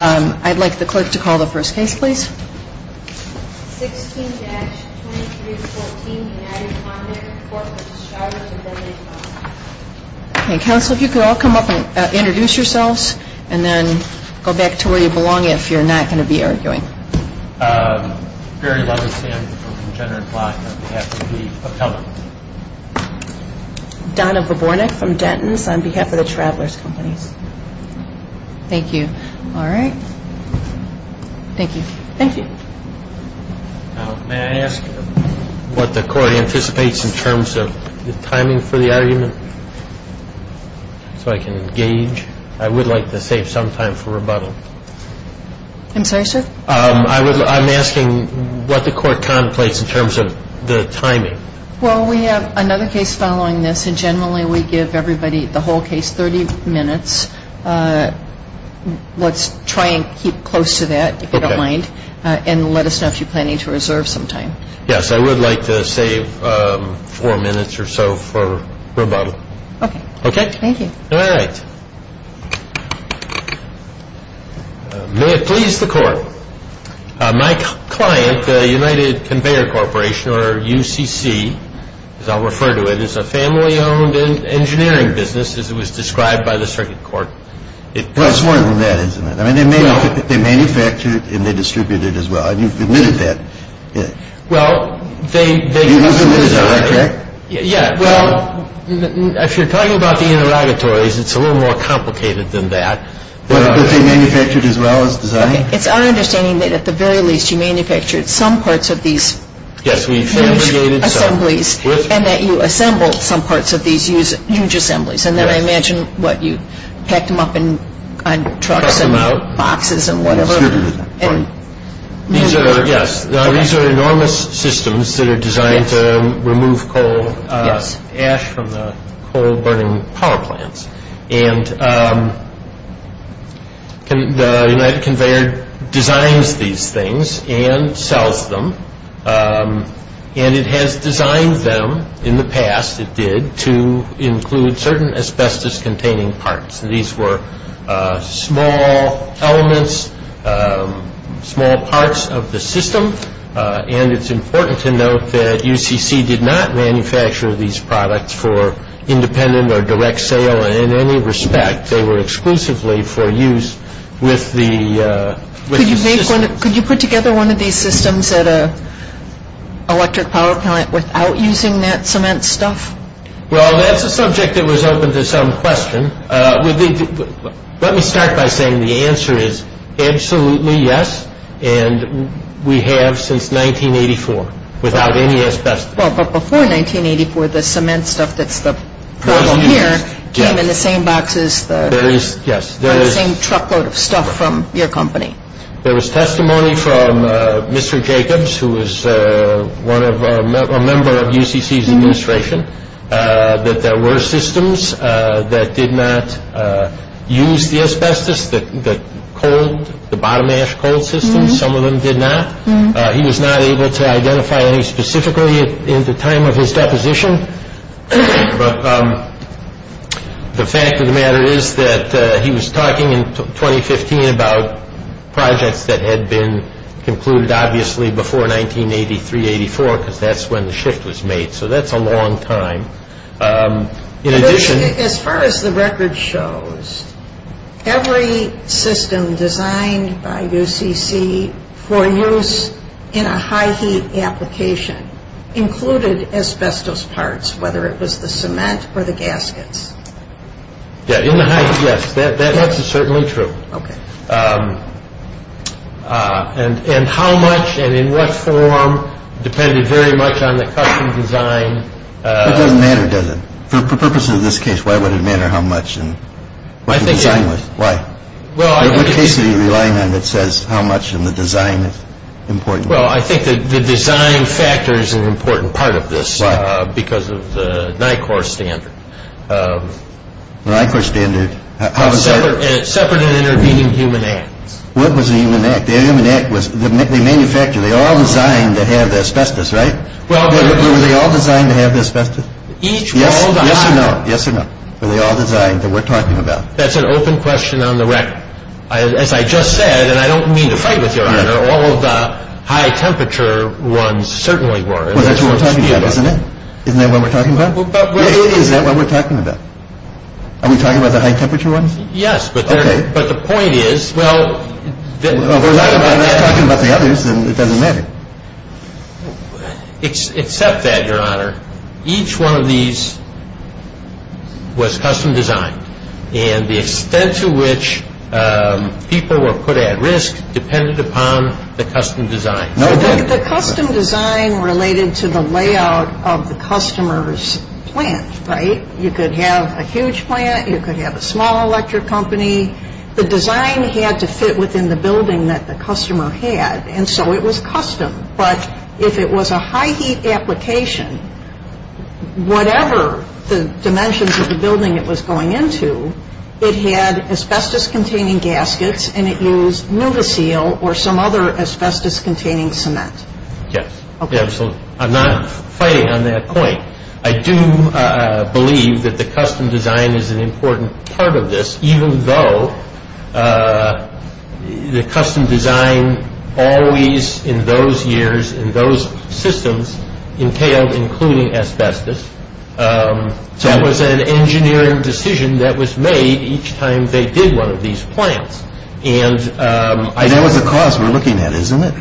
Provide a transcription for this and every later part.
I'd like the clerk to call the first case, please. 16-2314 United Conveyor Corp. v. Travelers Indemnity Co. Okay, counsel, if you could all come up and introduce yourselves, and then go back to where you belong if you're not going to be arguing. Barry Lunderstand from Congener and Plotkin on behalf of the propeller. Donna Vobornik from Dentons on behalf of the Travelers Companies. Thank you. All right. Thank you. Thank you. May I ask what the court anticipates in terms of the timing for the argument so I can engage? I would like to save some time for rebuttal. I'm sorry, sir? I'm asking what the court contemplates in terms of the timing. Well, we have another case following this, and generally we give everybody, the whole case, 30 minutes. Let's try and keep close to that, if you don't mind, and let us know if you plan to reserve some time. Yes, I would like to save four minutes or so for rebuttal. Okay. Okay? Thank you. All right. May it please the court. My client, United Conveyor Corporation, or UCC, as I'll refer to it, is a family-owned engineering business, as it was described by the circuit court. Well, it's more than that, isn't it? I mean, they manufactured and they distributed as well, and you've admitted that. Well, they... You've admitted that, correct? Yeah, well, if you're talking about the interrogatories, it's a little more complicated than that. But they manufactured as well as designed? It's our understanding that at the very least you manufactured some parts of these huge assemblies and that you assembled some parts of these huge assemblies, and then I imagine what you packed them up on trucks and boxes and whatever. Yes, these are enormous systems that are designed to remove coal ash from the coal-burning power plants. And the United Conveyor designs these things and sells them, and it has designed them in the past, it did, to include certain asbestos-containing parts. These were small elements, small parts of the system, and it's important to note that UCC did not manufacture these products for independent or direct sale. In any respect, they were exclusively for use with the... Could you put together one of these systems at an electric power plant without using that cement stuff? Well, that's a subject that was open to some question. Let me start by saying the answer is absolutely yes, and we have since 1984 without any asbestos. Well, but before 1984, the cement stuff that's the problem here came in the same boxes, the same truckload of stuff from your company. There was testimony from Mr. Jacobs, who was a member of UCC's administration, that there were systems that did not use the asbestos, the bottom-ash coal systems. Some of them did not. He was not able to identify any specifically at the time of his deposition, but the fact of the matter is that he was talking in 2015 about projects that had been concluded obviously before 1983-84 because that's when the shift was made, so that's a long time. In addition... As far as the record shows, every system designed by UCC for use in a high-heat application included asbestos parts, whether it was the cement or the gaskets. Yeah, in the high-heat, yes, that's certainly true. Okay. And how much and in what form depended very much on the custom design... It doesn't matter, does it? For purposes of this case, why would it matter how much and what the design was? Why? Well, I think... What case are you relying on that says how much in the design is important? Well, I think the design factor is an important part of this because of the NICOR standard. The NICOR standard. Separate and intervening human acts. What was the human act? The human act was they manufactured, they all designed to have the asbestos, right? Were they all designed to have the asbestos? Yes or no. Yes or no. Were they all designed that we're talking about? That's an open question on the record. As I just said, and I don't mean to fight with you, Your Honor, all of the high-temperature ones certainly were. Well, that's what we're talking about, isn't it? Isn't that what we're talking about? Is that what we're talking about? Are we talking about the high-temperature ones? Yes, but the point is... Well, we're talking about the others and it doesn't matter. Except that, Your Honor, each one of these was custom designed. And the extent to which people were put at risk depended upon the custom design. The custom design related to the layout of the customer's plant, right? You could have a huge plant. You could have a small electric company. The design had to fit within the building that the customer had, and so it was custom. But if it was a high-heat application, whatever the dimensions of the building it was going into, it had asbestos-containing gaskets and it used NuvaSeal or some other asbestos-containing cement. Yes. Absolutely. I'm not fighting on that point. I do believe that the custom design is an important part of this, even though the custom design always, in those years, in those systems, entailed including asbestos. That was an engineering decision that was made each time they did one of these plants. That was the cause we're looking at, isn't it?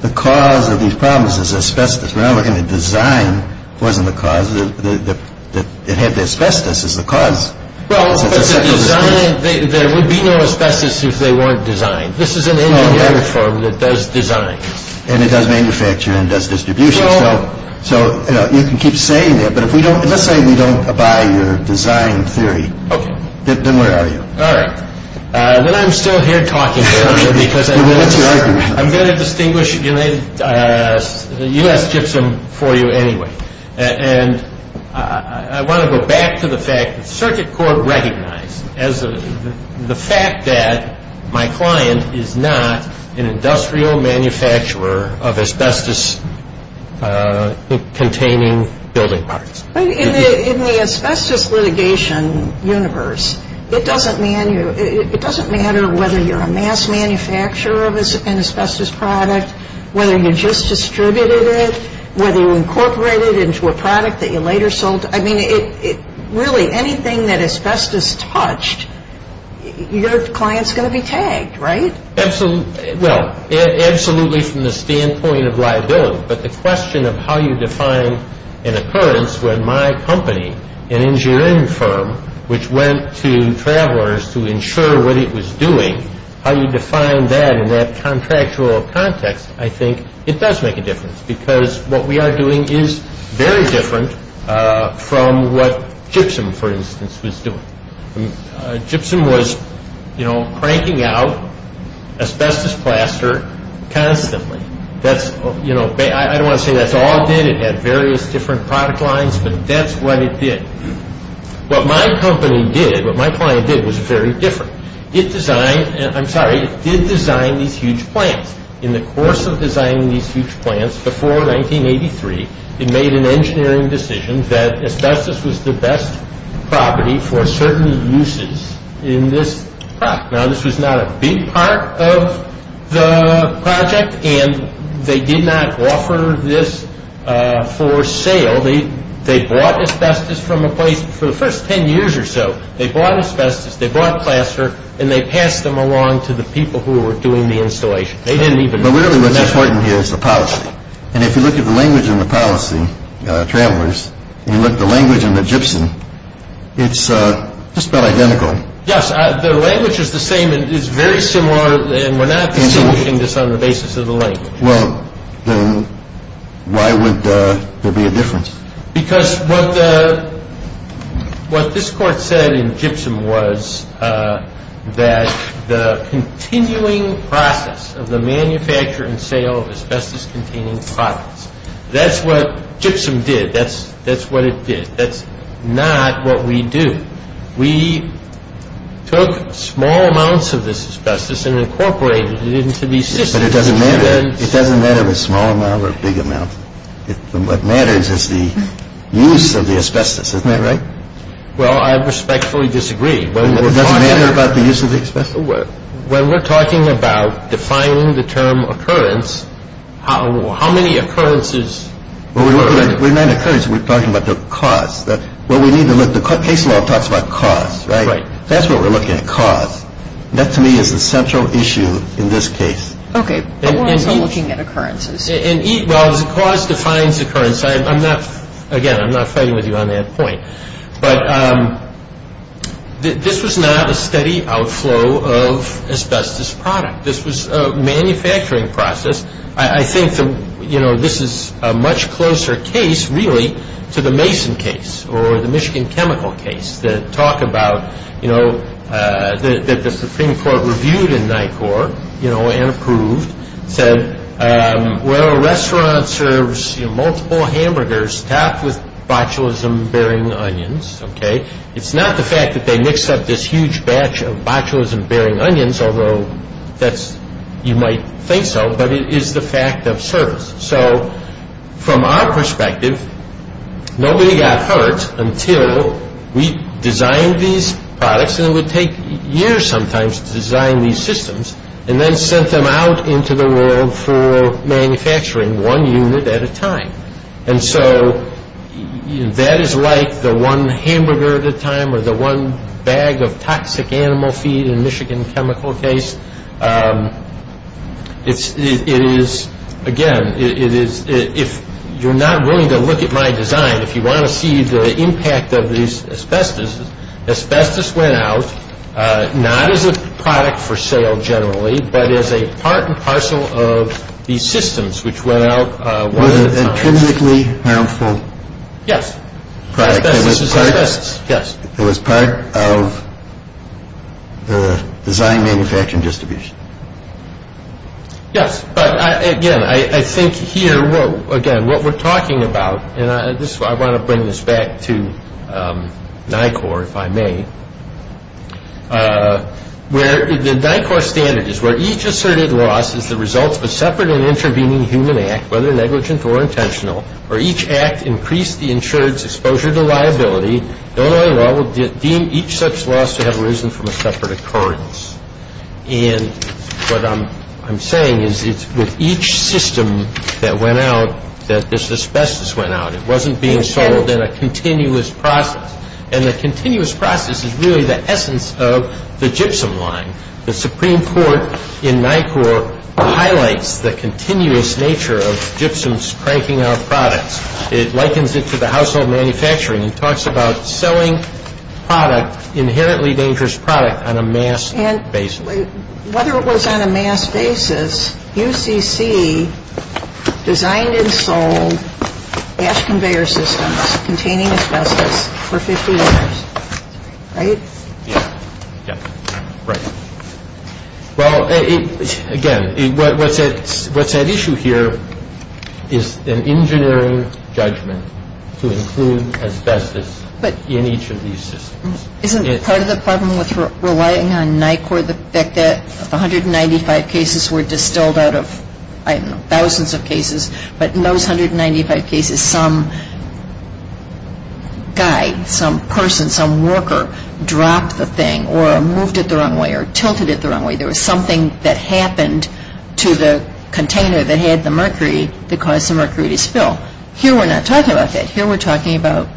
The cause of these problems is asbestos. We're not looking at design wasn't the cause. It had to have asbestos as the cause. There would be no asbestos if they weren't designed. This is an engineering firm that does design. It does manufacture and does distribution. You can keep saying that, but let's say we don't buy your design theory, then where are you? All right. I'm still here talking because I'm going to distinguish the US gypsum for you anyway. I want to go back to the fact that Circuit Court recognized the fact that my client is not an industrial manufacturer of asbestos-containing building parts. In the asbestos litigation universe, it doesn't matter whether you're a mass manufacturer of an asbestos product, whether you just distributed it, whether you incorporated it into a product that you later sold. I mean, really, anything that asbestos touched, your client's going to be tagged, right? Absolutely. Well, absolutely from the standpoint of liability, but the question of how you define an occurrence when my company, an engineering firm, which went to travelers to ensure what it was doing, how you define that in that contractual context, I think it does make a difference because what we are doing is very different from what gypsum, for instance, was doing. Gypsum was cranking out asbestos plaster constantly. I don't want to say that's all it did. It had various different product lines, but that's what it did. What my company did, what my client did, was very different. It designed, I'm sorry, it did design these huge plants. In the course of designing these huge plants before 1983, it made an engineering decision that asbestos was the best property for certain uses in this product. Now, this was not a big part of the project, and they did not offer this for sale. They bought asbestos from a place for the first 10 years or so. They bought asbestos, they bought plaster, and they passed them along to the people who were doing the installation. They didn't even know. But really what's important here is the policy, and if you look at the language in the policy, travelers, and you look at the language in the gypsum, it's just about identical. Yes, the language is the same. It's very similar, and we're not distinguishing this on the basis of the language. Well, then why would there be a difference? Because what this Court said in gypsum was that the continuing process of the manufacture and sale of asbestos-containing products, that's what gypsum did. That's what it did. That's not what we do. We took small amounts of this asbestos and incorporated it into these systems. But it doesn't matter. It doesn't matter if it's a small amount or a big amount. What matters is the use of the asbestos. Isn't that right? Well, I respectfully disagree. Well, does it matter about the use of the asbestos? When we're talking about defining the term occurrence, how many occurrences occur? Well, we're not at occurrence. We're talking about the cause. The case law talks about cause, right? That's what we're looking at, cause. That, to me, is the central issue in this case. Okay. We're also looking at occurrences. Well, cause defines occurrence. Again, I'm not fighting with you on that point. But this was not a steady outflow of asbestos product. This was a manufacturing process. I think this is a much closer case, really, to the Mason case or the Michigan chemical case that the Supreme Court reviewed in NICOR and approved, said, well, a restaurant serves multiple hamburgers topped with botulism-bearing onions. It's not the fact that they mix up this huge batch of botulism-bearing onions, although you might think so, but it is the fact of service. So from our perspective, nobody got hurt until we designed these products, and it would take years sometimes to design these systems, and then sent them out into the world for manufacturing one unit at a time. And so that is like the one hamburger at a time or the one bag of toxic animal feed in Michigan chemical case. Again, if you're not willing to look at my design, if you want to see the impact of these asbestos, asbestos went out not as a product for sale generally, but as a part and parcel of these systems which went out one at a time. Was it intrinsically harmful? Yes. Asbestos is asbestos. Yes, yes. It was part of the design-manufacturing distribution. Yes, but again, I think here, again, what we're talking about, and I want to bring this back to NICOR, if I may, where the NICOR standard is where each asserted loss is the result of a separate and intervening human act, whether negligent or intentional, or each act increased the insured's exposure to liability, no other law would deem each such loss to have arisen from a separate occurrence. And what I'm saying is it's with each system that went out that this asbestos went out. It wasn't being sold in a continuous process. And the continuous process is really the essence of the gypsum line. The Supreme Court in NICOR highlights the continuous nature of gypsums cranking out products. It likens it to the household manufacturing. It talks about selling product, inherently dangerous product, on a mass basis. And whether it was on a mass basis, UCC designed and sold ash conveyor systems containing asbestos for 50 years, right? Right. Well, again, what's at issue here is an engineering judgment to include asbestos in each of these systems. Isn't part of the problem with relying on NICOR the fact that 195 cases were distilled out of thousands of cases, but in those 195 cases, some guy, some person, some worker dropped the thing or moved it the wrong way or tilted it the wrong way. There was something that happened to the container that had the mercury that caused the mercury to spill. Here we're not talking about that. Here we're talking about,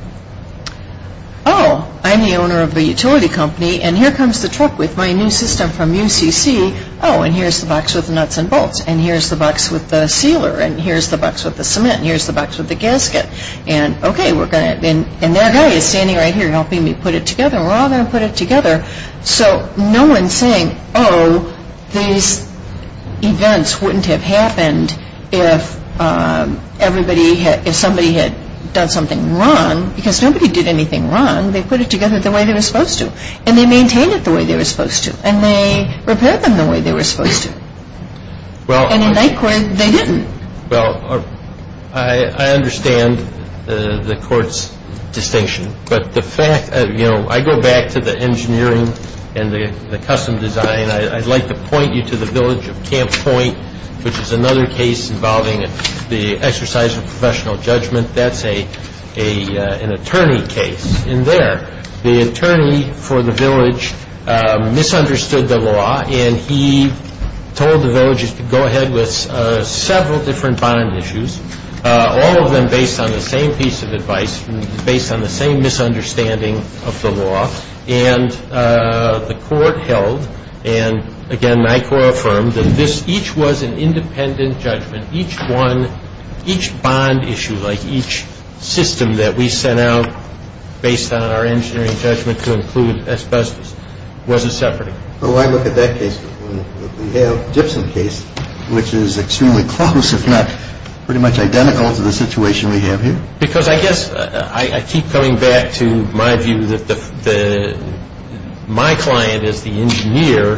oh, I'm the owner of the utility company, and here comes the truck with my new system from UCC. Oh, and here's the box with nuts and bolts. And here's the box with the sealer. And here's the box with the cement. And here's the box with the gasket. And, okay, we're going to, and that guy is standing right here helping me put it together. We're all going to put it together. So no one's saying, oh, these events wouldn't have happened if everybody had, if somebody had done something wrong, because nobody did anything wrong. They put it together the way they were supposed to. And they maintained it the way they were supposed to. And they repaired them the way they were supposed to. And in my court, they didn't. Well, I understand the court's distinction. But the fact, you know, I go back to the engineering and the custom design. I'd like to point you to the village of Camp Point, which is another case involving the exercise of professional judgment. That's an attorney case. And there, the attorney for the village misunderstood the law, and he told the villagers to go ahead with several different bond issues, all of them based on the same piece of advice, based on the same misunderstanding of the law. And the court held, and again, NICOR affirmed, that this, each was an independent judgment. Each one, each bond issue, like each system that we sent out based on our engineering judgment to include asbestos, was a separate one. Well, why look at that case? We have the Gibson case, which is extremely close, if not pretty much identical to the situation we have here. Because I guess I keep coming back to my view that my client is the engineer.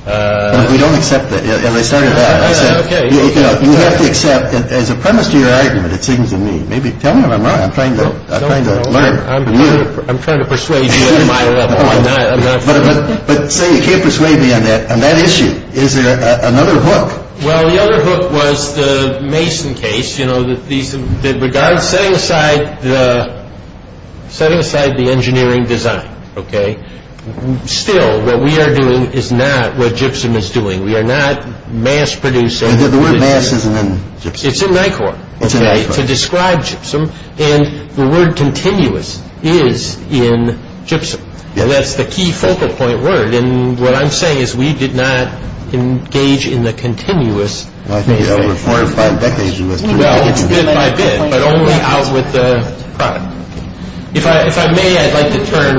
We don't accept that. As I started out, I said, you have to accept that as a premise to your argument, it seems to me. Tell me if I'm wrong. I'm trying to learn from you. I'm trying to persuade you at my level. But say you can't persuade me on that issue. Is there another hook? Well, the other hook was the Mason case. You know, setting aside the engineering design, okay, still what we are doing is not what Gibson is doing. We are not mass producing. The word mass isn't in Gibson. It's in NICOR. It's in NICOR. And the word continuous is in Gibson. And that's the key focal point word. And what I'm saying is we did not engage in the continuous Mason case. I think over four or five decades we must have done that. Well, it's bit by bit. But only out with the product. If I may, I'd like to turn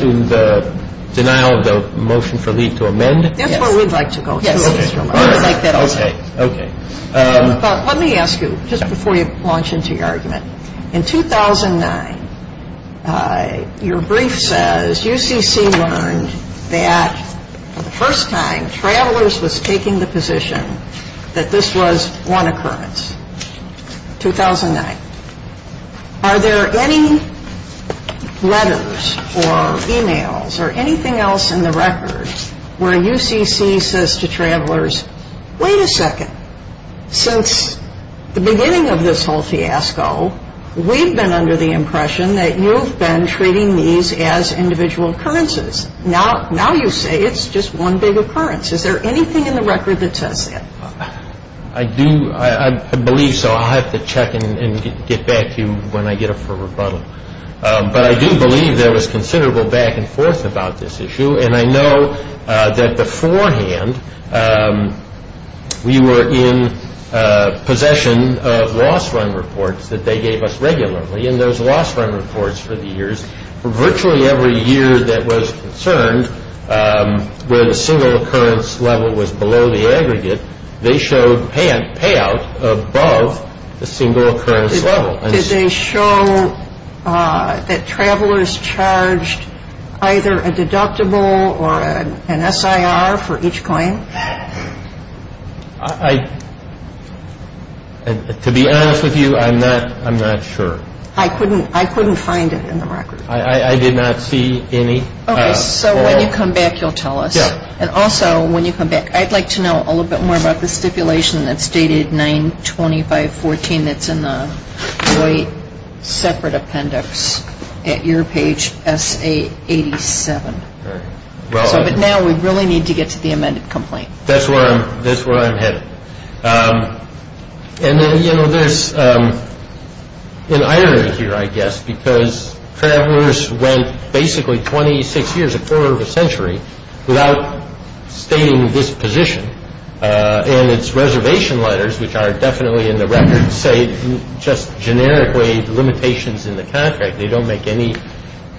to the denial of the motion for leave to amend. That's where we'd like to go. Yes. We would like that also. Okay. Let me ask you just before you launch into your argument. In 2009, your brief says UCC learned that for the first time, Travelers was taking the position that this was one occurrence. 2009. Are there any letters or e-mails or anything else in the records where UCC says to Travelers, Wait a second. Since the beginning of this whole fiasco, we've been under the impression that you've been treating these as individual occurrences. Now you say it's just one big occurrence. Is there anything in the record that says that? I do. I believe so. I'll have to check and get back to you when I get up for rebuttal. But I do believe there was considerable back and forth about this issue. And I know that beforehand we were in possession of loss run reports that they gave us regularly. And those loss run reports for the years, for virtually every year that was concerned where the single occurrence level was below the aggregate, they showed payout above the single occurrence level. Did they show that Travelers charged either a deductible or an SIR for each claim? To be honest with you, I'm not sure. I couldn't find it in the record. I did not see any. Okay. So when you come back, you'll tell us. Yeah. And also when you come back, I'd like to know a little bit more about the stipulation that's stated 925.14 that's in the separate appendix at your page, S.A. 87. But now we really need to get to the amended complaint. That's where I'm headed. And then, you know, there's an irony here, I guess, because Travelers went basically 26 years, a quarter of a century, without stating this position. And its reservation letters, which are definitely in the record, say just generically limitations in the contract. They don't make any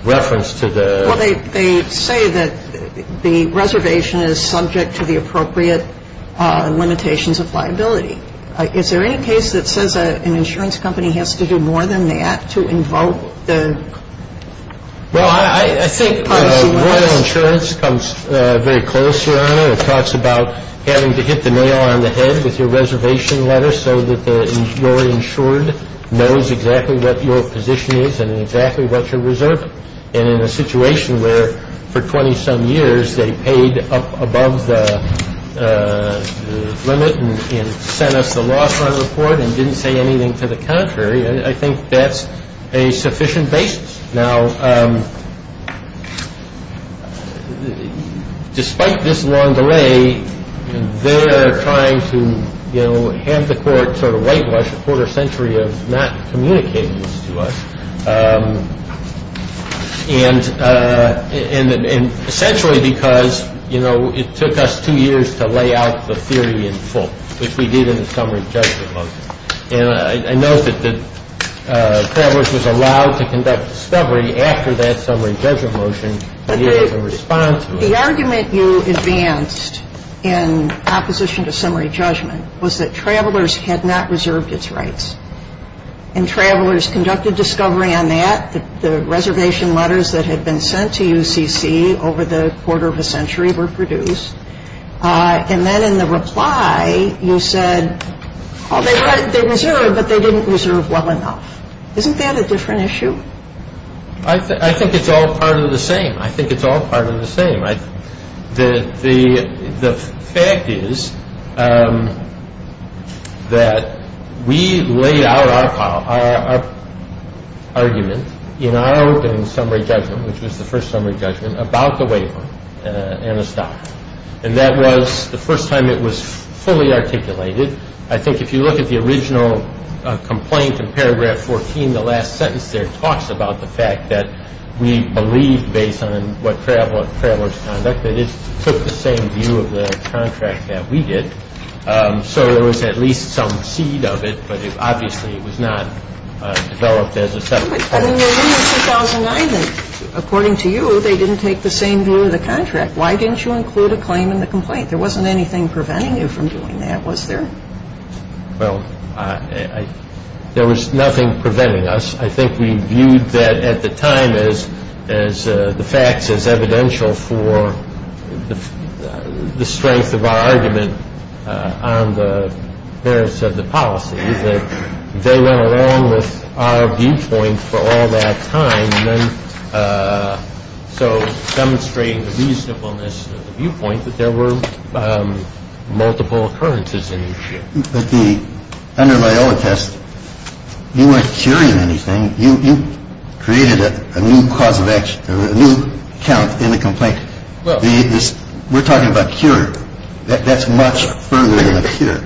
reference to the… Well, they say that the reservation is subject to the appropriate limitations of liability. Is there any case that says an insurance company has to do more than that to invoke the policy? Well, I think Royal Insurance comes very close here on it. It talks about having to hit the nail on the head with your reservation letter so that your insured knows exactly what your position is and exactly what you're reserving. And so I think that's a sufficient basis for us to say, well, we're going to have to do a little more. We need to do a little more. And in a situation where for 20-some years they paid up above the limit and sent us the loss line report and didn't say anything to the contrary, I think that's a sufficient basis. Now, despite this long delay, they're trying to, you know, hand the court sort of whitewash a quarter century of not communicating this to us. And essentially because, you know, it took us two years to lay out the theory in full, which we did in the summary of the judge proposal. And I note that Travelers was allowed to conduct discovery after that summary judgment motion. But the argument you advanced in opposition to summary judgment was that Travelers had not reserved its rights. And Travelers conducted discovery on that. The reservation letters that had been sent to UCC over the quarter of a century were produced. And then in the reply, you said, oh, they reserved, but they didn't reserve well enough. Isn't that a different issue? I think it's all part of the same. I think it's all part of the same. The fact is that we laid out our argument in our opening summary judgment, which was the first summary judgment, about the waiver and the stock. And that was the first time it was fully articulated. I think if you look at the original complaint in paragraph 14, the last sentence there, talks about the fact that we believed, based on what Travelers conducted, that it took the same view of the contract that we did. So there was at least some seed of it, but obviously it was not developed as a settlement. But in your ruling in 2009, according to you, they didn't take the same view of the contract. Why didn't you include a claim in the complaint? There wasn't anything preventing you from doing that, was there? Well, there was nothing preventing us. I think we viewed that at the time as the facts as evidential for the strength of our argument on the merits of the policy, that they went along with our viewpoint for all that time, and then so demonstrating the reasonableness of the viewpoint that there were multiple occurrences in the issue. But under Loyola test, you weren't curing anything. You created a new cause of action, a new count in the complaint. We're talking about curing. That's much further than a cure.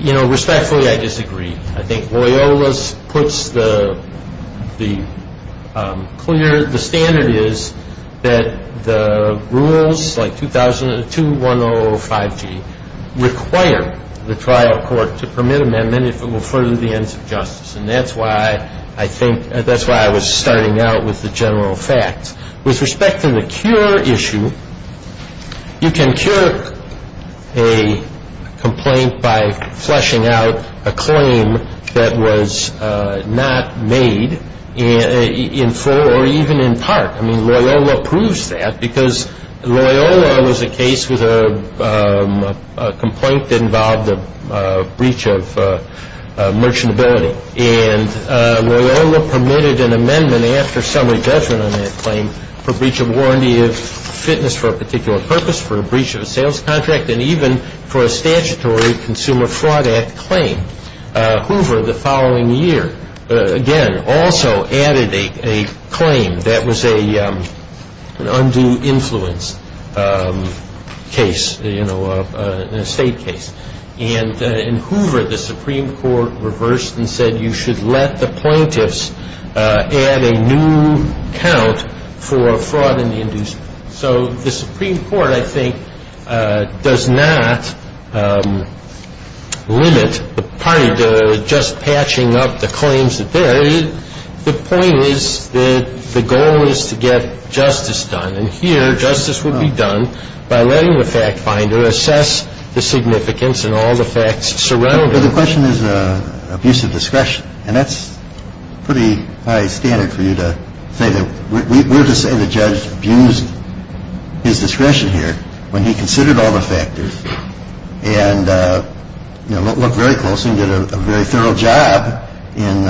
You know, respectfully, I disagree. I think Loyola's puts the clear, the standard is that the rules, like 2105G, require the trial court to permit amendment if it will further the ends of justice. And that's why I think, that's why I was starting out with the general facts. With respect to the cure issue, you can cure a complaint by fleshing out a claim that was not made in full or even in part. I mean, Loyola proves that because Loyola was a case with a complaint that involved a breach of merchantability. And Loyola permitted an amendment after summary judgment on that claim for breach of warranty of fitness for a particular purpose, for a breach of a sales contract, and even for a statutory Consumer Fraud Act claim. Hoover, the following year, again, also added a claim that was an undue influence case, you know, an estate case. And in Hoover, the Supreme Court reversed and said you should let the plaintiffs add a new count for fraud and inducement. So the Supreme Court, I think, does not limit the party to just patching up the claims that they're in. The point is that the goal is to get justice done. And here, justice would be done by letting the fact finder assess the significance and all the facts surrounding it. But the question is abuse of discretion. And that's pretty high standard for you to say that. We're to say the judge abused his discretion here when he considered all the factors and, you know, looked very closely and did a very thorough job in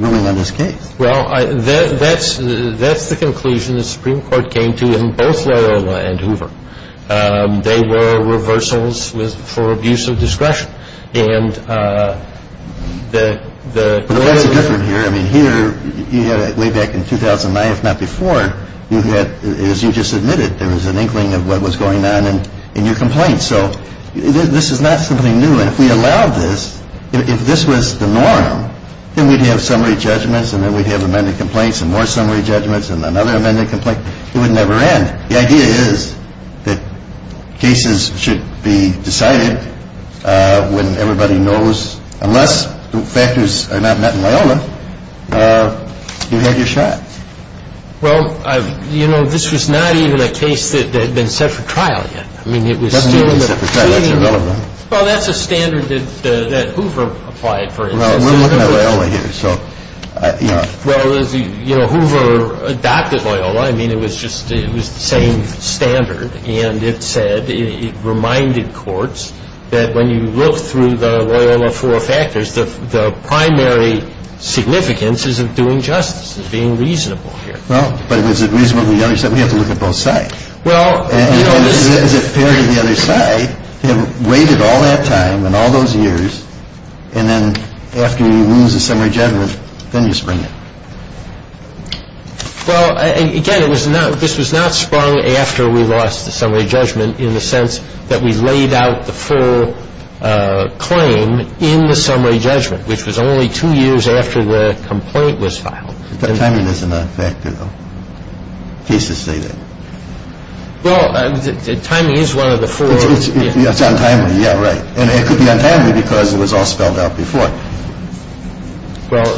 ruling on this case. Well, that's the conclusion the Supreme Court came to in both Loyola and Hoover. They were reversals for abuse of discretion. And the – Well, that's different here. I mean, here, way back in 2009, if not before, you had, as you just admitted, there was an inkling of what was going on in your complaint. So this is not something new. I mean, if we allowed this, if this was the norm, then we'd have summary judgments and then we'd have amended complaints and more summary judgments and another amended complaint. It would never end. The idea is that cases should be decided when everybody knows, unless the factors are not met in Loyola, you have your shot. Well, you know, this was not even a case that had been set for trial yet. I mean, it was still – It wasn't even set for trial. Well, that's irrelevant. Well, that's a standard that Hoover applied, for instance. Well, we're looking at Loyola here, so, you know. Well, as you know, Hoover adopted Loyola. I mean, it was just – it was the same standard. And it said – it reminded courts that when you look through the Loyola four factors, the primary significance is of doing justice, is being reasonable here. Well, but is it reasonable on the other side? We have to look at both sides. Well, you know, this – Is it fair to the other side to have waited all that time and all those years and then after you lose the summary judgment, then you spring it? Well, again, it was not – this was not sprung after we lost the summary judgment in the sense that we laid out the full claim in the summary judgment, which was only two years after the complaint was filed. But timing isn't a factor, though. Cases say that. Well, timing is one of the four. It's untimely, yeah, right. And it could be untimely because it was all spelled out before. Well,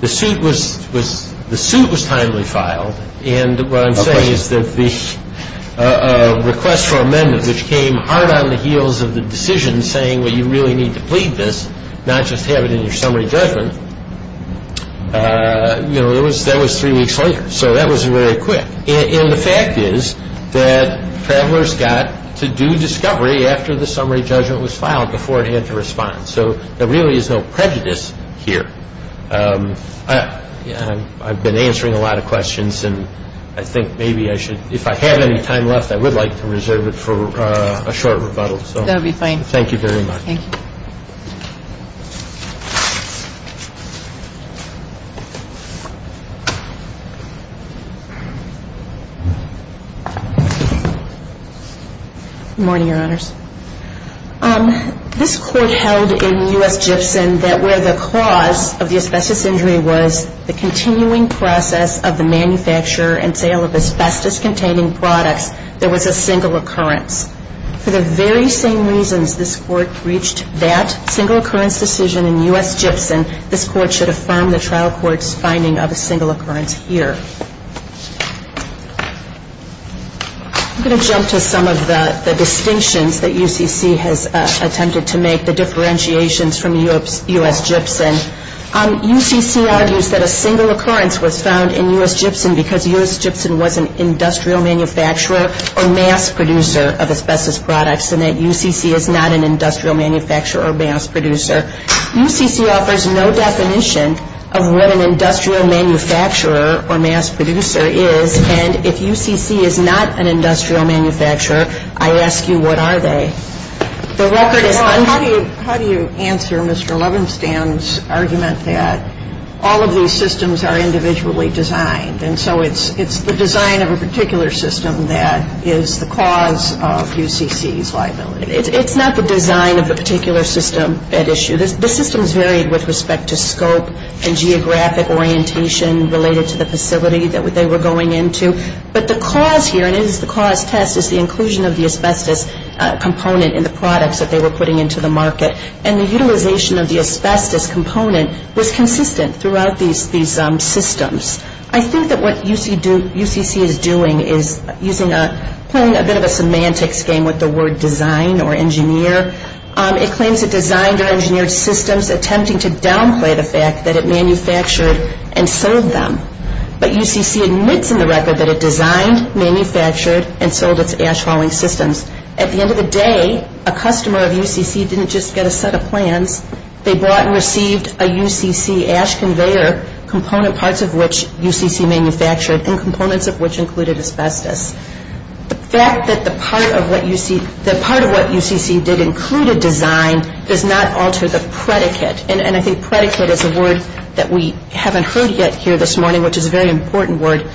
the suit was – the suit was timely filed. And what I'm saying is that the request for amendment, which came hard on the heels of the decision saying, well, you really need to plead this, not just have it in your summary judgment, you know, that was three weeks later. So that was very quick. And the fact is that Travelers got to do discovery after the summary judgment was filed before it had to respond. So there really is no prejudice here. I've been answering a lot of questions, and I think maybe I should – if I have any time left, I would like to reserve it for a short rebuttal. That would be fine. Thank you very much. Thank you. Good morning, Your Honors. This Court held in U.S. Gibson that where the cause of the asbestos injury was the continuing process of the manufacture and sale of asbestos-containing products, there was a single occurrence. For the very same reasons this Court reached that single occurrence decision in U.S. Gibson, this Court should affirm the trial court's finding of a single occurrence here. I'm going to jump to some of the distinctions that UCC has attempted to make, the differentiations from U.S. Gibson. UCC argues that a single occurrence was found in U.S. Gibson because U.S. Gibson was an industrial manufacturer or mass producer of asbestos products and that UCC is not an industrial manufacturer or mass producer. UCC offers no definition of what an industrial manufacturer or mass producer is, and if UCC is not an industrial manufacturer, I ask you, what are they? The record is – Well, how do you answer Mr. Levenstam's argument that all of these systems are individually designed and so it's the design of a particular system that is the cause of UCC's liability? It's not the design of the particular system at issue. The systems varied with respect to scope and geographic orientation related to the facility that they were going into, but the cause here, and it is the cause test, is the inclusion of the asbestos component in the products that they were putting into the market, and the utilization of the asbestos component was consistent throughout these systems. I think that what UCC is doing is playing a bit of a semantics game with the word design or engineer. It claims it designed or engineered systems attempting to downplay the fact that it manufactured and sold them, but UCC admits in the record that it designed, manufactured, and sold its ash hauling systems. At the end of the day, a customer of UCC didn't just get a set of plans. They bought and received a UCC ash conveyor component, parts of which UCC manufactured, and components of which included asbestos. The fact that the part of what UCC did include a design does not alter the predicate, and I think predicate is a word that we haven't heard yet here this morning, which is a very important word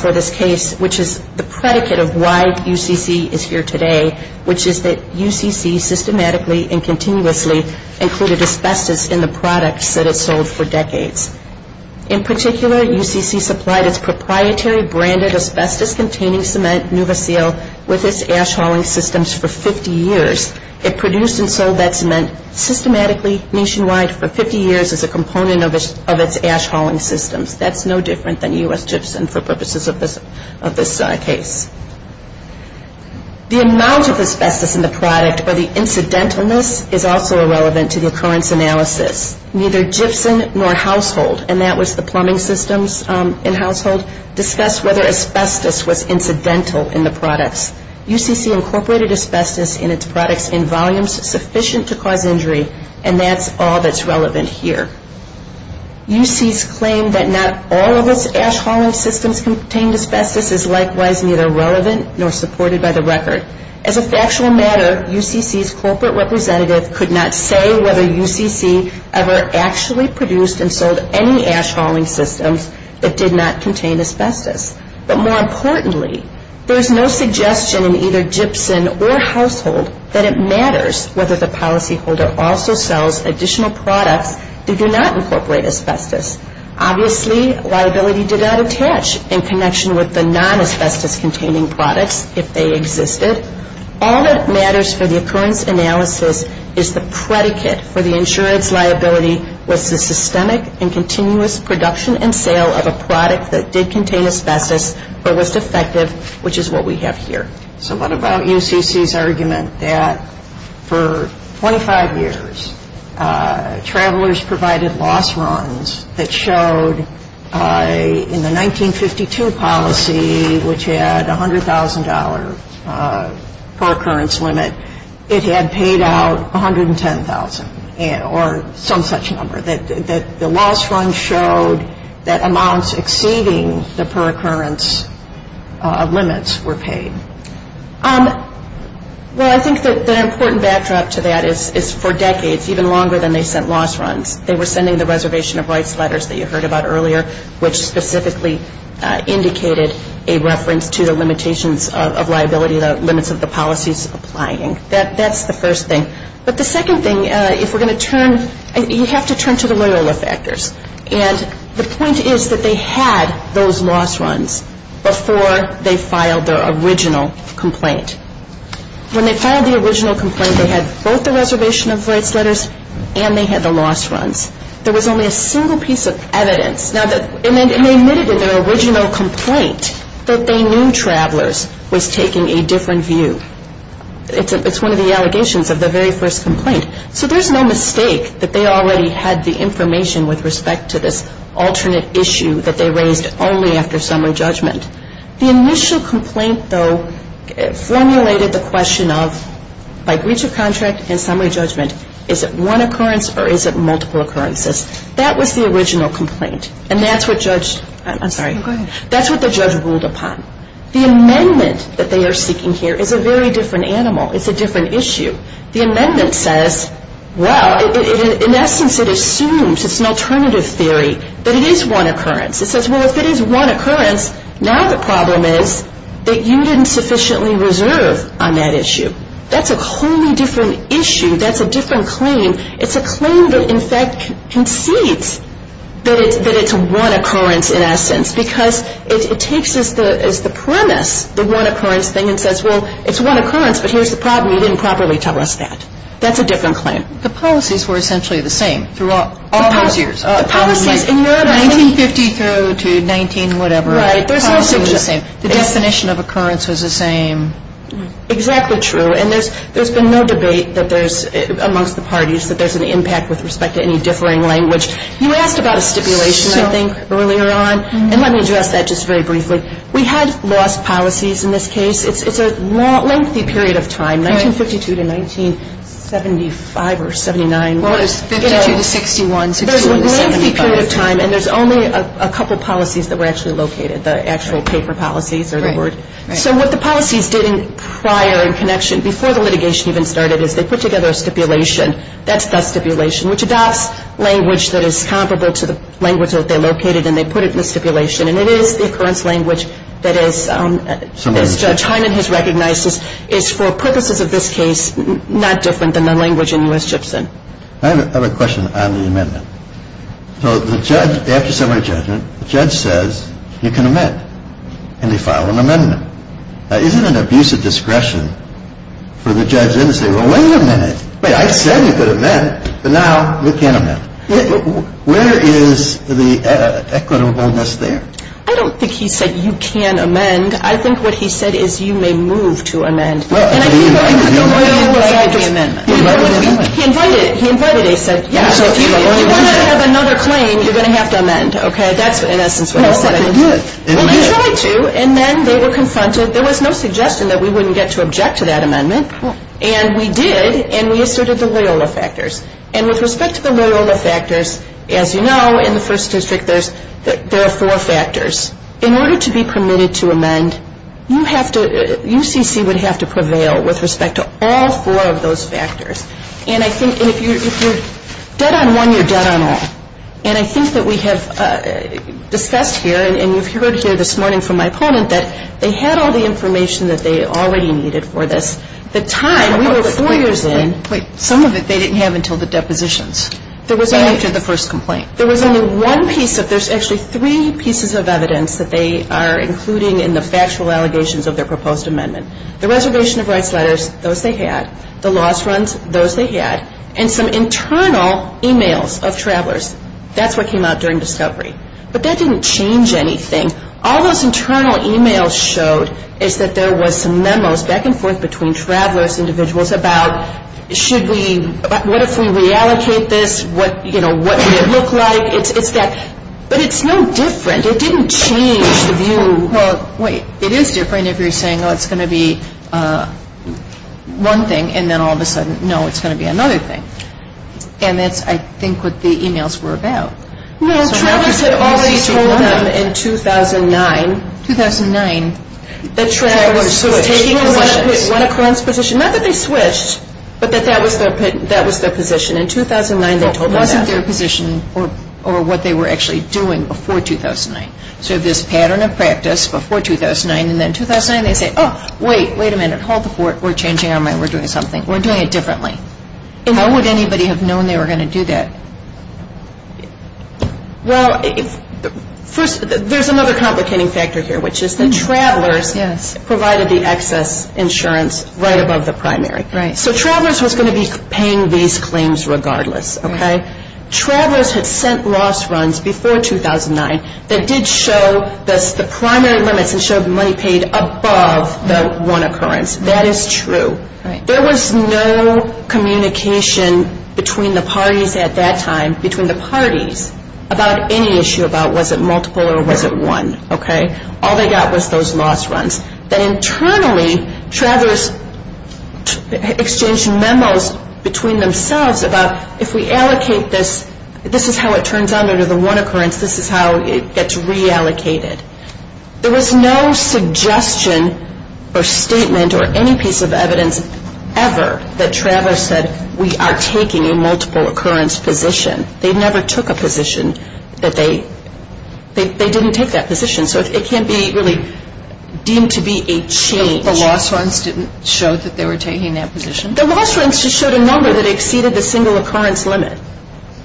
for this case, which is the predicate of why UCC is here today, which is that UCC systematically and continuously included asbestos in the products that it sold for decades. In particular, UCC supplied its proprietary branded asbestos-containing cement, NuvaSeal, with its ash hauling systems for 50 years. It produced and sold that cement systematically nationwide for 50 years as a component of its ash hauling systems. That's no different than U.S. Gypsum for purposes of this case. The amount of asbestos in the product, or the incidentalness, is also irrelevant to the occurrence analysis. Neither Gypsum nor Household, and that was the plumbing systems in Household, discussed whether asbestos was incidental in the products. UCC incorporated asbestos in its products in volumes sufficient to cause injury, and that's all that's relevant here. UCC's claim that not all of its ash hauling systems contained asbestos is likewise neither relevant nor supported by the record. As a factual matter, UCC's corporate representative could not say whether UCC ever actually produced and sold any ash hauling systems that did not contain asbestos. But more importantly, there is no suggestion in either Gypsum or Household that it matters whether the policyholder also sells additional products that do not incorporate asbestos. Obviously, liability did not attach in connection with the non-asbestos-containing products if they existed. All that matters for the occurrence analysis is the predicate for the insurance liability was the systemic and continuous production and sale of a product that did contain asbestos or was defective, which is what we have here. So what about UCC's argument that for 25 years, travelers provided loss runs that showed in the 1952 policy, which had a $100,000 per occurrence limit, it had paid out $110,000 or some such number, that the loss run showed that amounts exceeding the per occurrence limits were paid? Well, I think the important backdrop to that is for decades, even longer than they sent loss runs. They were sending the reservation of rights letters that you heard about earlier, which specifically indicated a reference to the limitations of liability, the limits of the policies applying. That's the first thing. But the second thing, if we're going to turn, you have to turn to the Loyola factors. And the point is that they had those loss runs before they filed their original complaint. When they filed the original complaint, they had both the reservation of rights letters and they had the loss runs. There was only a single piece of evidence. And they admitted in their original complaint that they knew travelers was taking a different view. It's one of the allegations of the very first complaint. So there's no mistake that they already had the information with respect to this alternate issue that they raised only after summary judgment. The initial complaint, though, formulated the question of by breach of contract and summary judgment, is it one occurrence or is it multiple occurrences? That was the original complaint. And that's what the judge ruled upon. The amendment that they are seeking here is a very different animal. It's a different issue. The amendment says, well, in essence it assumes, it's an alternative theory, that it is one occurrence. It says, well, if it is one occurrence, now the problem is that you didn't sufficiently reserve on that issue. That's a wholly different issue. That's a different claim. It's a claim that, in fact, concedes that it's one occurrence in essence because it takes as the premise the one occurrence thing and says, well, it's one occurrence, but here's the problem. You didn't properly tell us that. That's a different claim. The policies were essentially the same throughout all those years. The policies in your amendment. 1950 through to 19-whatever. Right. The policy was the same. The definition of occurrence was the same. Exactly true. And there's been no debate that there's, amongst the parties, that there's an impact with respect to any differing language. You asked about a stipulation, I think, earlier on. And let me address that just very briefly. We had lost policies in this case. It's a lengthy period of time, 1952 to 1975 or 79. Well, it was 52 to 61. There's a lengthy period of time, and there's only a couple policies that were actually located, the actual paper policies or the word. So what the policies did prior in connection, before the litigation even started, is they put together a stipulation. That's the stipulation, which adopts language that is comparable to the language that they located, and they put it in the stipulation. And it is the occurrence language that is, as Judge Hyman has recognized, is for purposes of this case not different than the language in U.S. Gibson. I have a question on the amendment. So the judge, after summary judgment, the judge says you can amend. And they file an amendment. Now, isn't it an abuse of discretion for the judge then to say, well, wait a minute. I said you could amend, but now you can't amend. Where is the equitableness there? I don't think he said you can amend. I think what he said is you may move to amend. And I think the Loyola was up to the amendment. He invited it. He invited it. He said, yes, if you want to have another claim, you're going to have to amend. Okay? That's in essence what he said. Well, they did. Well, they tried to, and then they were confronted. There was no suggestion that we wouldn't get to object to that amendment. And we did, and we asserted the Loyola factors. And with respect to the Loyola factors, as you know, in the first district there are four factors. In order to be permitted to amend, you have to, UCC would have to prevail with respect to all four of those factors. And I think if you're dead on one, you're dead on all. And I think that we have discussed here, and you've heard here this morning from my opponent, that they had all the information that they already needed for this. The time, we were four years in. Some of it they didn't have until the depositions. There was only one piece of it. There's actually three pieces of evidence that they are including in the factual allegations of their proposed amendment. The reservation of rights letters, those they had. The loss runs, those they had. And some internal e-mails of travelers. That's what came out during discovery. But that didn't change anything. All those internal e-mails showed is that there was some memos back and forth between travelers, individuals, about should we, what if we reallocate this? What, you know, what would it look like? It's that. But it's no different. It didn't change the view. Well, wait. It is different if you're saying, oh, it's going to be one thing. And then all of a sudden, no, it's going to be another thing. And that's, I think, what the e-mails were about. No, travelers had already told them in 2009. 2009. Travelers taking positions. Went across positions. Not that they switched, but that that was their position. In 2009, they told them that. It wasn't their position or what they were actually doing before 2009. So this pattern of practice before 2009, and then 2009, they say, oh, wait, wait a minute. Hold the fort. We're changing our mind. We're doing something. We're doing it differently. How would anybody have known they were going to do that? Well, first, there's another complicating factor here, which is that travelers provided the excess insurance right above the primary. Right. So travelers was going to be paying these claims regardless. Okay? Travelers had sent loss runs before 2009 that did show the primary limits and showed money paid above the one occurrence. That is true. There was no communication between the parties at that time, between the parties, about any issue about was it multiple or was it one. Okay? All they got was those loss runs. Then internally, travelers exchanged memos between themselves about if we allocate this, this is how it turns under the one occurrence. This is how it gets reallocated. There was no suggestion or statement or any piece of evidence ever that travelers said, we are taking a multiple occurrence position. They never took a position that they didn't take that position. So it can't be really deemed to be a change. The loss runs didn't show that they were taking that position? The loss runs just showed a number that exceeded the single occurrence limit.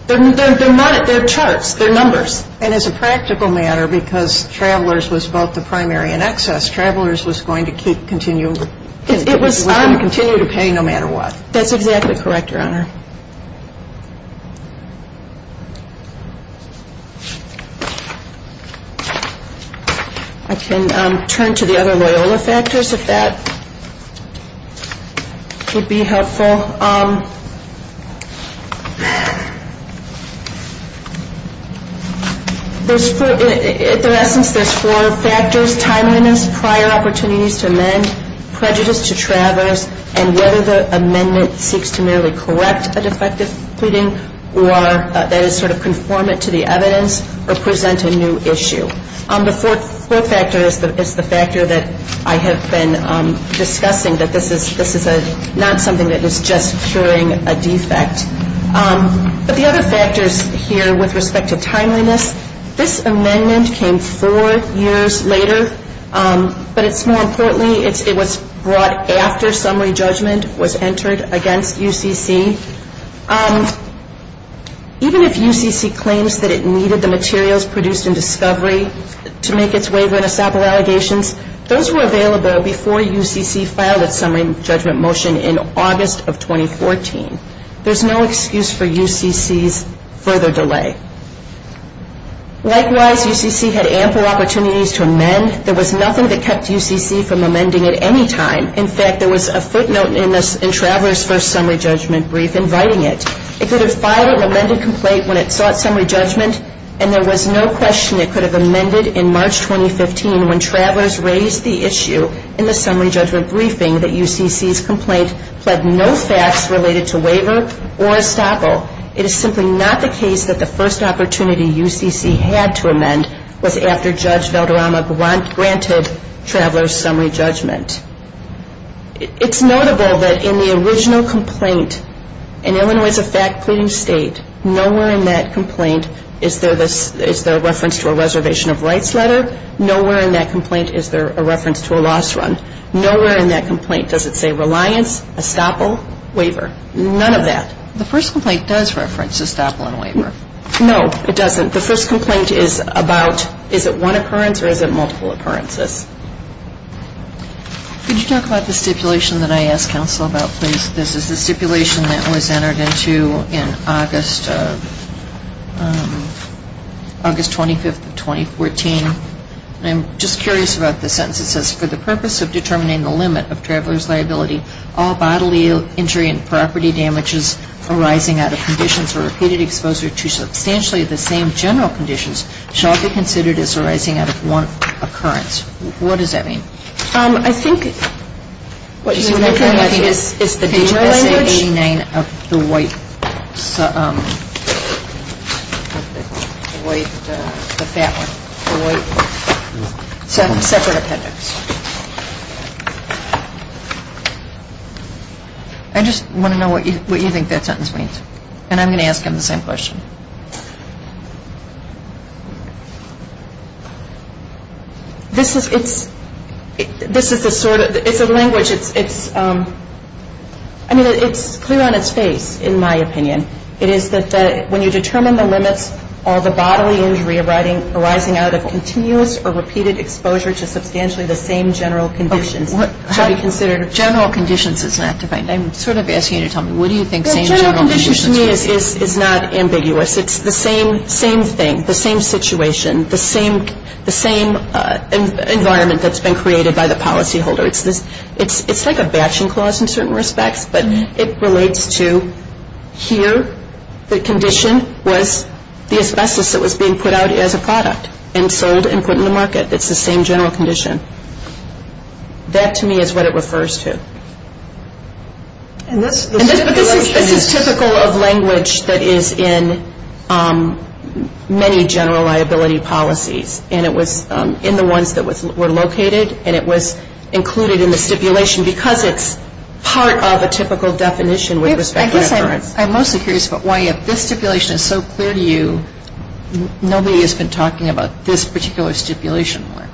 They're charts. They're numbers. And as a practical matter, because travelers was both the primary and excess, travelers was going to continue to pay no matter what. That's exactly correct, Your Honor. I can turn to the other Loyola factors if that would be helpful. At their essence, there's four factors, timeliness, prior opportunities to amend, prejudice to travelers, and whether the amendment seeks to merely correct a defective pleading or that is sort of conformant to the evidence or present a new issue. The fourth factor is the factor that I have been discussing, that this is not something that is just curing a defect. But the other factors here with respect to timeliness, this amendment came four years later. But it's more importantly, it was brought after summary judgment was entered against UCC. Even if UCC claims that it needed the materials produced in discovery to make its waiver in a sample allegations, those were available before UCC filed its summary judgment motion in August of 2014. There was no excuse for UCC's further delay. Likewise, UCC had ample opportunities to amend. There was nothing that kept UCC from amending at any time. In fact, there was a footnote in Traveler's First Summary Judgment Brief inviting it. It could have filed an amended complaint when it sought summary judgment, and there was no question it could have amended in March 2015 when Travelers raised the issue in the summary judgment briefing that UCC's complaint pled no facts related to waiver or estoppel. It is simply not the case that the first opportunity UCC had to amend was after Judge Valderrama granted Traveler's summary judgment. It's notable that in the original complaint, in Illinois as a fact pleading state, nowhere in that complaint is there a reference to a reservation of rights letter. Nowhere in that complaint is there a reference to a loss run. Nowhere in that complaint does it say reliance, estoppel, waiver. None of that. The first complaint does reference estoppel and waiver. No, it doesn't. The first complaint is about is it one occurrence or is it multiple occurrences? Could you talk about the stipulation that I asked counsel about, please? This is the stipulation that was entered into in August 25th of 2014. I'm just curious about the sentence. It says, for the purpose of determining the limit of Traveler's liability, all bodily injury and property damages arising out of conditions of repeated exposure to substantially the same general conditions shall be considered as arising out of one occurrence. What does that mean? I think what you're referring to is the DGSA 89, the white, the fat one, separate appendix. I just want to know what you think that sentence means. And I'm going to ask him the same question. This is the sort of, it's a language, it's clear on its face, in my opinion. It is that when you determine the limits, all the bodily injury arising out of continuous or repeated exposure to substantially the same general conditions shall be considered. General conditions is not defined. I'm sort of asking you to tell me, what do you think same general conditions mean? General conditions to me is not ambiguous. It's the same thing, the same situation, the same environment that's been created by the policyholder. It's like a batching clause in certain respects, but it relates to here the condition was the asbestos that was being put out as a product and sold and put in the market. It's the same general condition. That to me is what it refers to. And this is typical of language that is in many general liability policies, and it was in the ones that were located and it was included in the stipulation because it's part of a typical definition with respect to occurrence. I guess I'm mostly curious about why if this stipulation is so clear to you, nobody has been talking about this particular stipulation more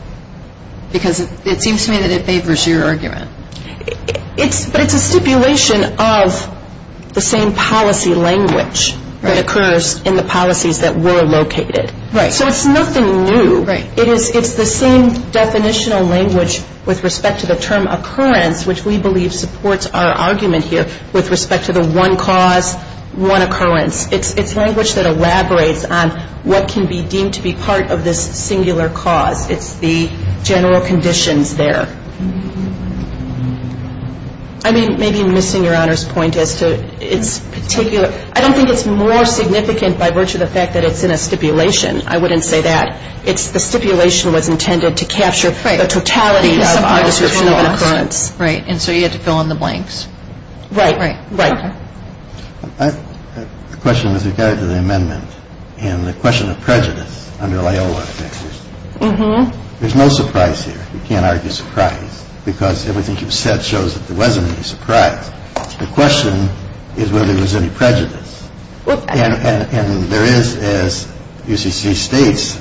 because it seems to me that it favors your argument. But it's a stipulation of the same policy language that occurs in the policies that were located. Right. So it's nothing new. Right. It's the same definitional language with respect to the term occurrence, which we believe supports our argument here with respect to the one cause, one occurrence. It's language that elaborates on what can be deemed to be part of this singular cause. It's the general conditions there. I mean, maybe missing Your Honor's point as to its particular. I don't think it's more significant by virtue of the fact that it's in a stipulation. I wouldn't say that. It's the stipulation was intended to capture the totality of our description of an occurrence. Right. And so you had to fill in the blanks. Right. Right. Right. The question with regard to the amendment and the question of prejudice under Loyola, there's no surprise here. You can't argue surprise because everything you've said shows that there wasn't any surprise. The question is whether there was any prejudice. And there is, as UCC states,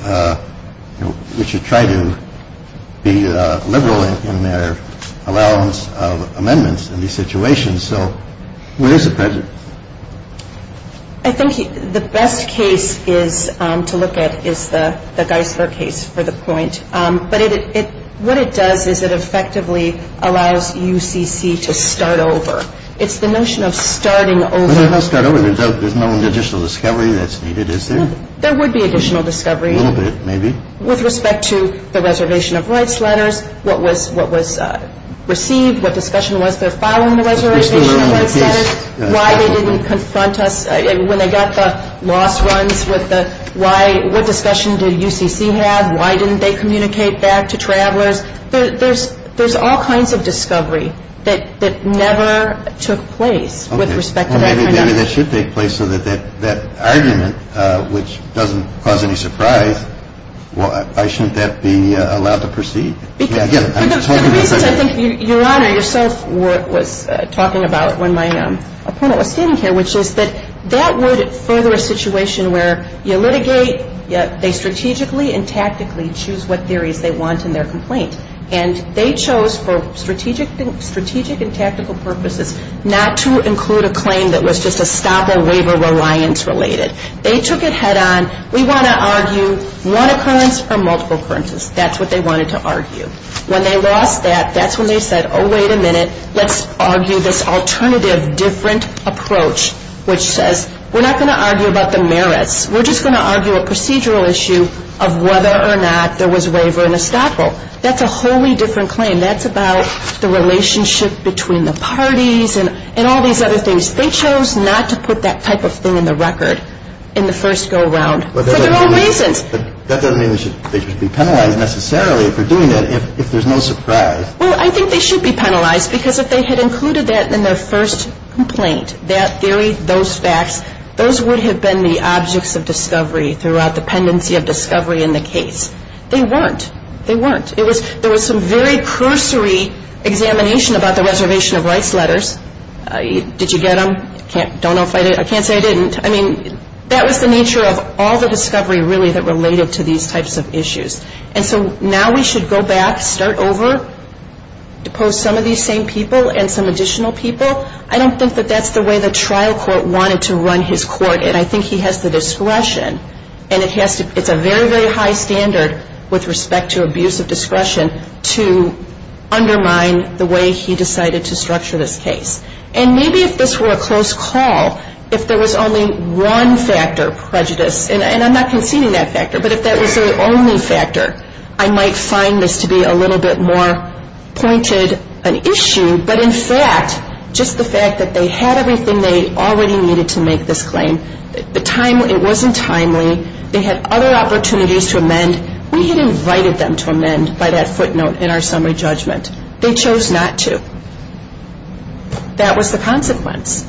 we should try to be liberal in their allowance of amendments in these situations. So where is the prejudice? I think the best case is to look at is the Geisler case for the point. But what it does is it effectively allows UCC to start over. It's the notion of starting over. Let's start over. There's no additional discovery that's needed, is there? There would be additional discovery. A little bit, maybe. With respect to the reservation of rights letters, what was received, what discussion was there following the reservation of rights letters, why they didn't confront us when they got the loss runs, what discussion did UCC have, why didn't they communicate that to travelers? There's all kinds of discovery that never took place with respect to that kind of discussion. I mean, that should take place so that that argument, which doesn't cause any surprise, why shouldn't that be allowed to proceed? The reasons I think Your Honor yourself was talking about when my opponent was standing here, which is that that would further a situation where you litigate, they strategically and tactically choose what theories they want in their complaint. And they chose for strategic and tactical purposes not to include a claim that was just estoppel waiver reliance related. They took it head on, we want to argue one occurrence or multiple occurrences. That's what they wanted to argue. When they lost that, that's when they said, oh, wait a minute, let's argue this alternative, different approach, which says, we're not going to argue about the merits, we're just going to argue a procedural issue of whether or not there was waiver and estoppel. That's a wholly different claim. That's about the relationship between the parties and all these other things. They chose not to put that type of thing in the record in the first go-around for their own reasons. But that doesn't mean they should be penalized necessarily for doing that if there's no surprise. Well, I think they should be penalized because if they had included that in their first complaint, that theory, those facts, those would have been the objects of discovery throughout the pendency of discovery in the case. They weren't. They weren't. There was some very cursory examination about the reservation of rights letters. Did you get them? Don't know if I did. I can't say I didn't. I mean, that was the nature of all the discovery really that related to these types of issues. And so now we should go back, start over, depose some of these same people and some additional people. I don't think that that's the way the trial court wanted to run his court, and I think he has the discretion, and it's a very, very high standard with respect to abuse of discretion to undermine the way he decided to structure this case. And maybe if this were a close call, if there was only one factor, prejudice, and I'm not conceding that factor, but if that was the only factor, I might find this to be a little bit more pointed an issue. But in fact, just the fact that they had everything they already needed to make this claim, and we had invited them to amend by that footnote in our summary judgment. They chose not to. That was the consequence.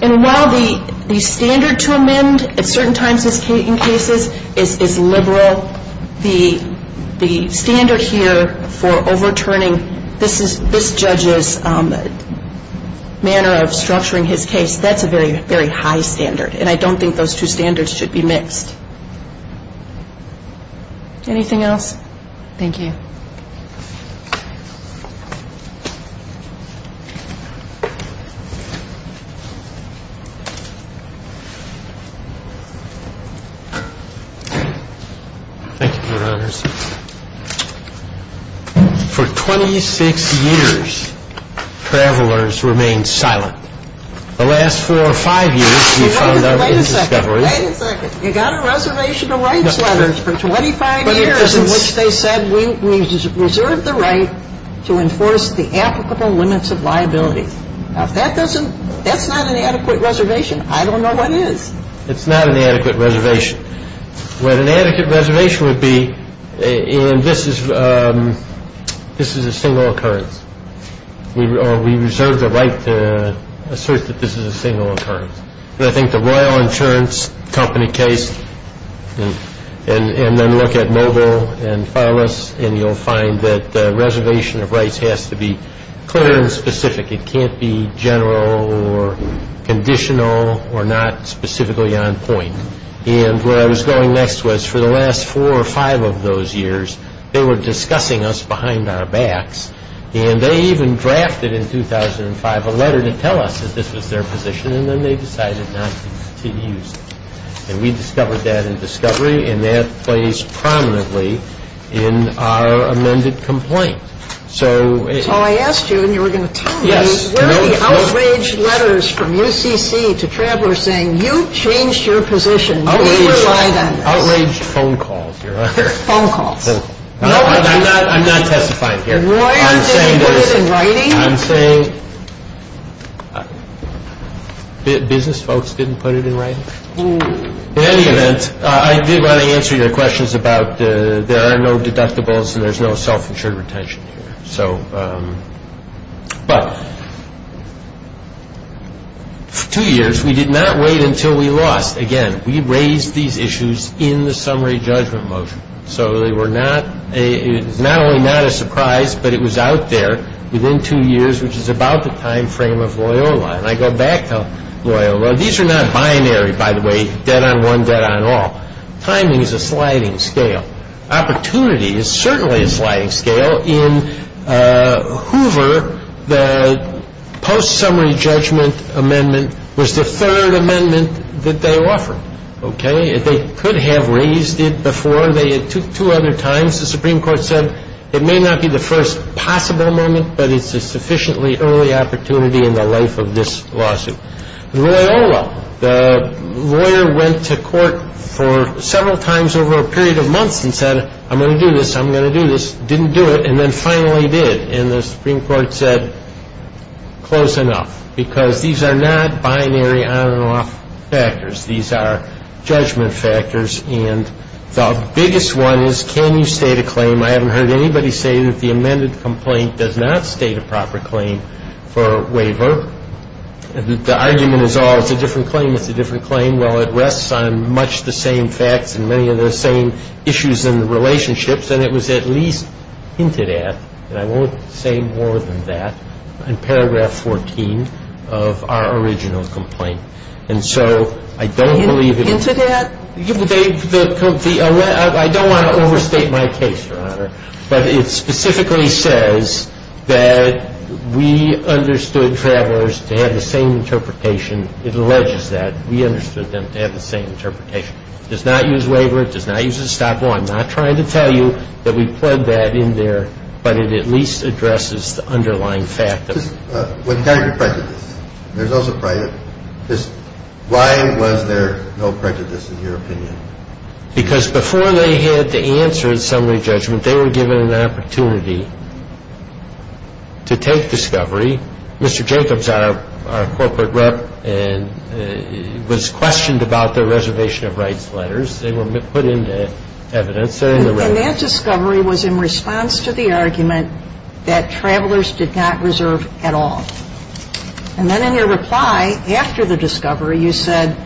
And while the standard to amend at certain times in cases is liberal, the standard here for overturning this judge's manner of structuring his case, that's a very, very high standard, and I don't think those two standards should be mixed. Anything else? Thank you. Thank you, Your Honors. For 26 years, travelers remained silent. The last four or five years, we found them in discovery. Wait a second. Wait a second. You got a reservation of rights letters for 25 years in which they said, we reserve the right to enforce the applicable limits of liability. Now, if that's not an adequate reservation, I don't know what is. It's not an adequate reservation. What an adequate reservation would be, and this is a single occurrence. We reserve the right to assert that this is a single occurrence. I think the Royal Insurance Company case, and then look at Mogul and Phyllis, and you'll find that the reservation of rights has to be clear and specific. It can't be general or conditional or not specifically on point. And where I was going next was for the last four or five of those years, they were discussing us behind our backs, and they even drafted in 2005 a letter to tell us that this was their position, and then they decided not to use it. And we discovered that in discovery, and that plays prominently in our amended complaint. So I asked you, and you were going to tell me, where are the outraged letters from UCC to travelers saying, you changed your position, we rely on this? Outraged phone calls, Your Honor. Phone calls. I'm not testifying here. Royal didn't put it in writing? I'm saying business folks didn't put it in writing? In any event, I did want to answer your questions about there are no deductibles and there's no self-insured retention here. But for two years, we did not wait until we lost. Again, we raised these issues in the summary judgment motion. So it was not only not a surprise, but it was out there within two years, which is about the time frame of Loyola. And I go back to Loyola. These are not binary, by the way, dead on one, dead on all. Timing is a sliding scale. Opportunity is certainly a sliding scale. In Hoover, the post-summary judgment amendment was the third amendment that they offered. They could have raised it before. Two other times, the Supreme Court said it may not be the first possible moment, but it's a sufficiently early opportunity in the life of this lawsuit. Loyola, the lawyer went to court for several times over a period of months and said, I'm going to do this, I'm going to do this, didn't do it, and then finally did. And the Supreme Court said, close enough, because these are not binary on and off factors. These are judgment factors. And the biggest one is, can you state a claim? I haven't heard anybody say that the amended complaint does not state a proper claim for waiver. The argument is, oh, it's a different claim, it's a different claim. Well, it rests on much the same facts and many of the same issues and relationships, and it was at least hinted at, and I won't say more than that, in paragraph 14 of our original complaint. And so I don't believe it was. Hinted at? I don't want to overstate my case, Your Honor, but it specifically says that we understood travelers to have the same interpretation. It alleges that. We understood them to have the same interpretation. It does not use waiver. It does not use a stop law. I'm not trying to tell you that we plug that in there, but it at least addresses the underlying fact of it. What kind of prejudice? There's also prejudice. Why was there no prejudice in your opinion? Because before they had the answer in summary judgment, they were given an opportunity to take discovery. Mr. Jacobs, our corporate rep, was questioned about the reservation of rights letters. They were put into evidence. And that discovery was in response to the argument that travelers did not reserve at all. And then in your reply after the discovery, you said,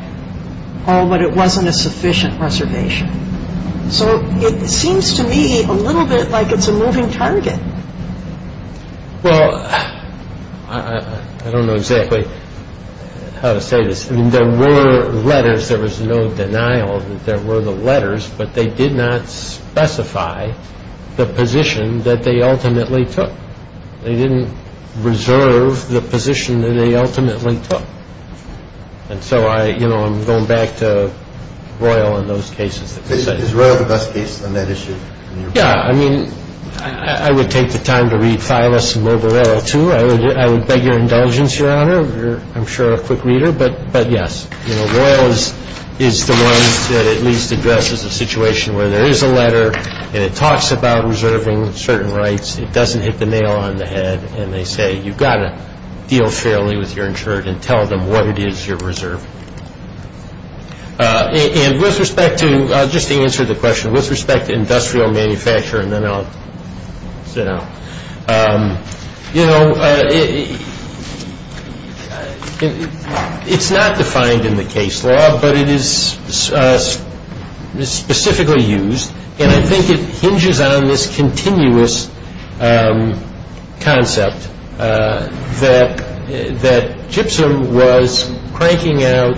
oh, but it wasn't a sufficient reservation. So it seems to me a little bit like it's a moving target. Well, I don't know exactly how to say this. I mean, there were letters. There was no denial that there were the letters, but they did not specify the position that they ultimately took. They didn't reserve the position that they ultimately took. And so, you know, I'm going back to Royal on those cases. Is Royal the best case on that issue? Yeah. I mean, I would take the time to read Phylus and Mobile Royal too. I would beg your indulgence, Your Honor. You're, I'm sure, a quick reader. But, yes, you know, Royal is the one that at least addresses the situation where there is a letter and it talks about reserving certain rights. It doesn't hit the nail on the head and they say you've got to deal fairly with your insured and tell them what it is you reserve. And with respect to, just to answer the question, with respect to industrial manufacturing, and then I'll sit down. You know, it's not defined in the case law, but it is specifically used. And I think it hinges on this continuous concept that gypsum was cranking out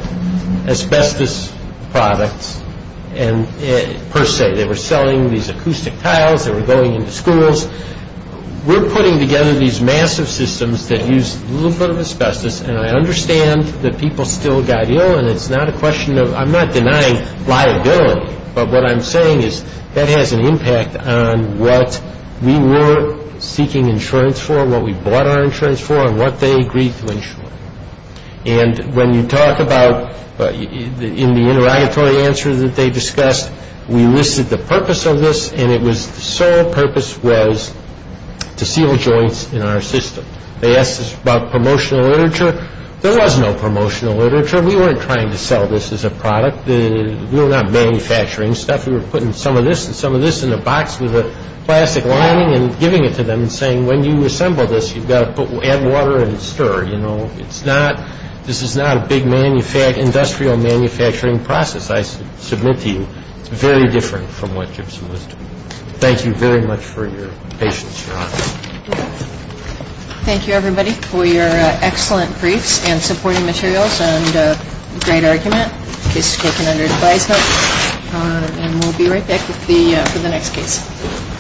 asbestos products per se. They were selling these acoustic tiles. They were going into schools. We're putting together these massive systems that use a little bit of asbestos and I understand that people still got ill and it's not a question of, I'm not denying liability, but what I'm saying is that has an impact on what we were seeking insurance for, what we bought our insurance for, and what they agreed to insure. And when you talk about, in the interrogatory answer that they discussed, we listed the purpose of this and it was the sole purpose was to seal joints in our system. They asked us about promotional literature. There was no promotional literature. We weren't trying to sell this as a product. We were not manufacturing stuff. We were putting some of this and some of this in a box with a plastic lining and giving it to them and saying, when you assemble this, you've got to add water and stir. You know, this is not a big industrial manufacturing process, I submit to you. It's very different from what gypsum was doing. Thank you very much for your patience, Your Honor. Thank you, everybody, for your excellent briefs and supporting materials and great argument. The case is taken under advisement and we'll be right back with the next case.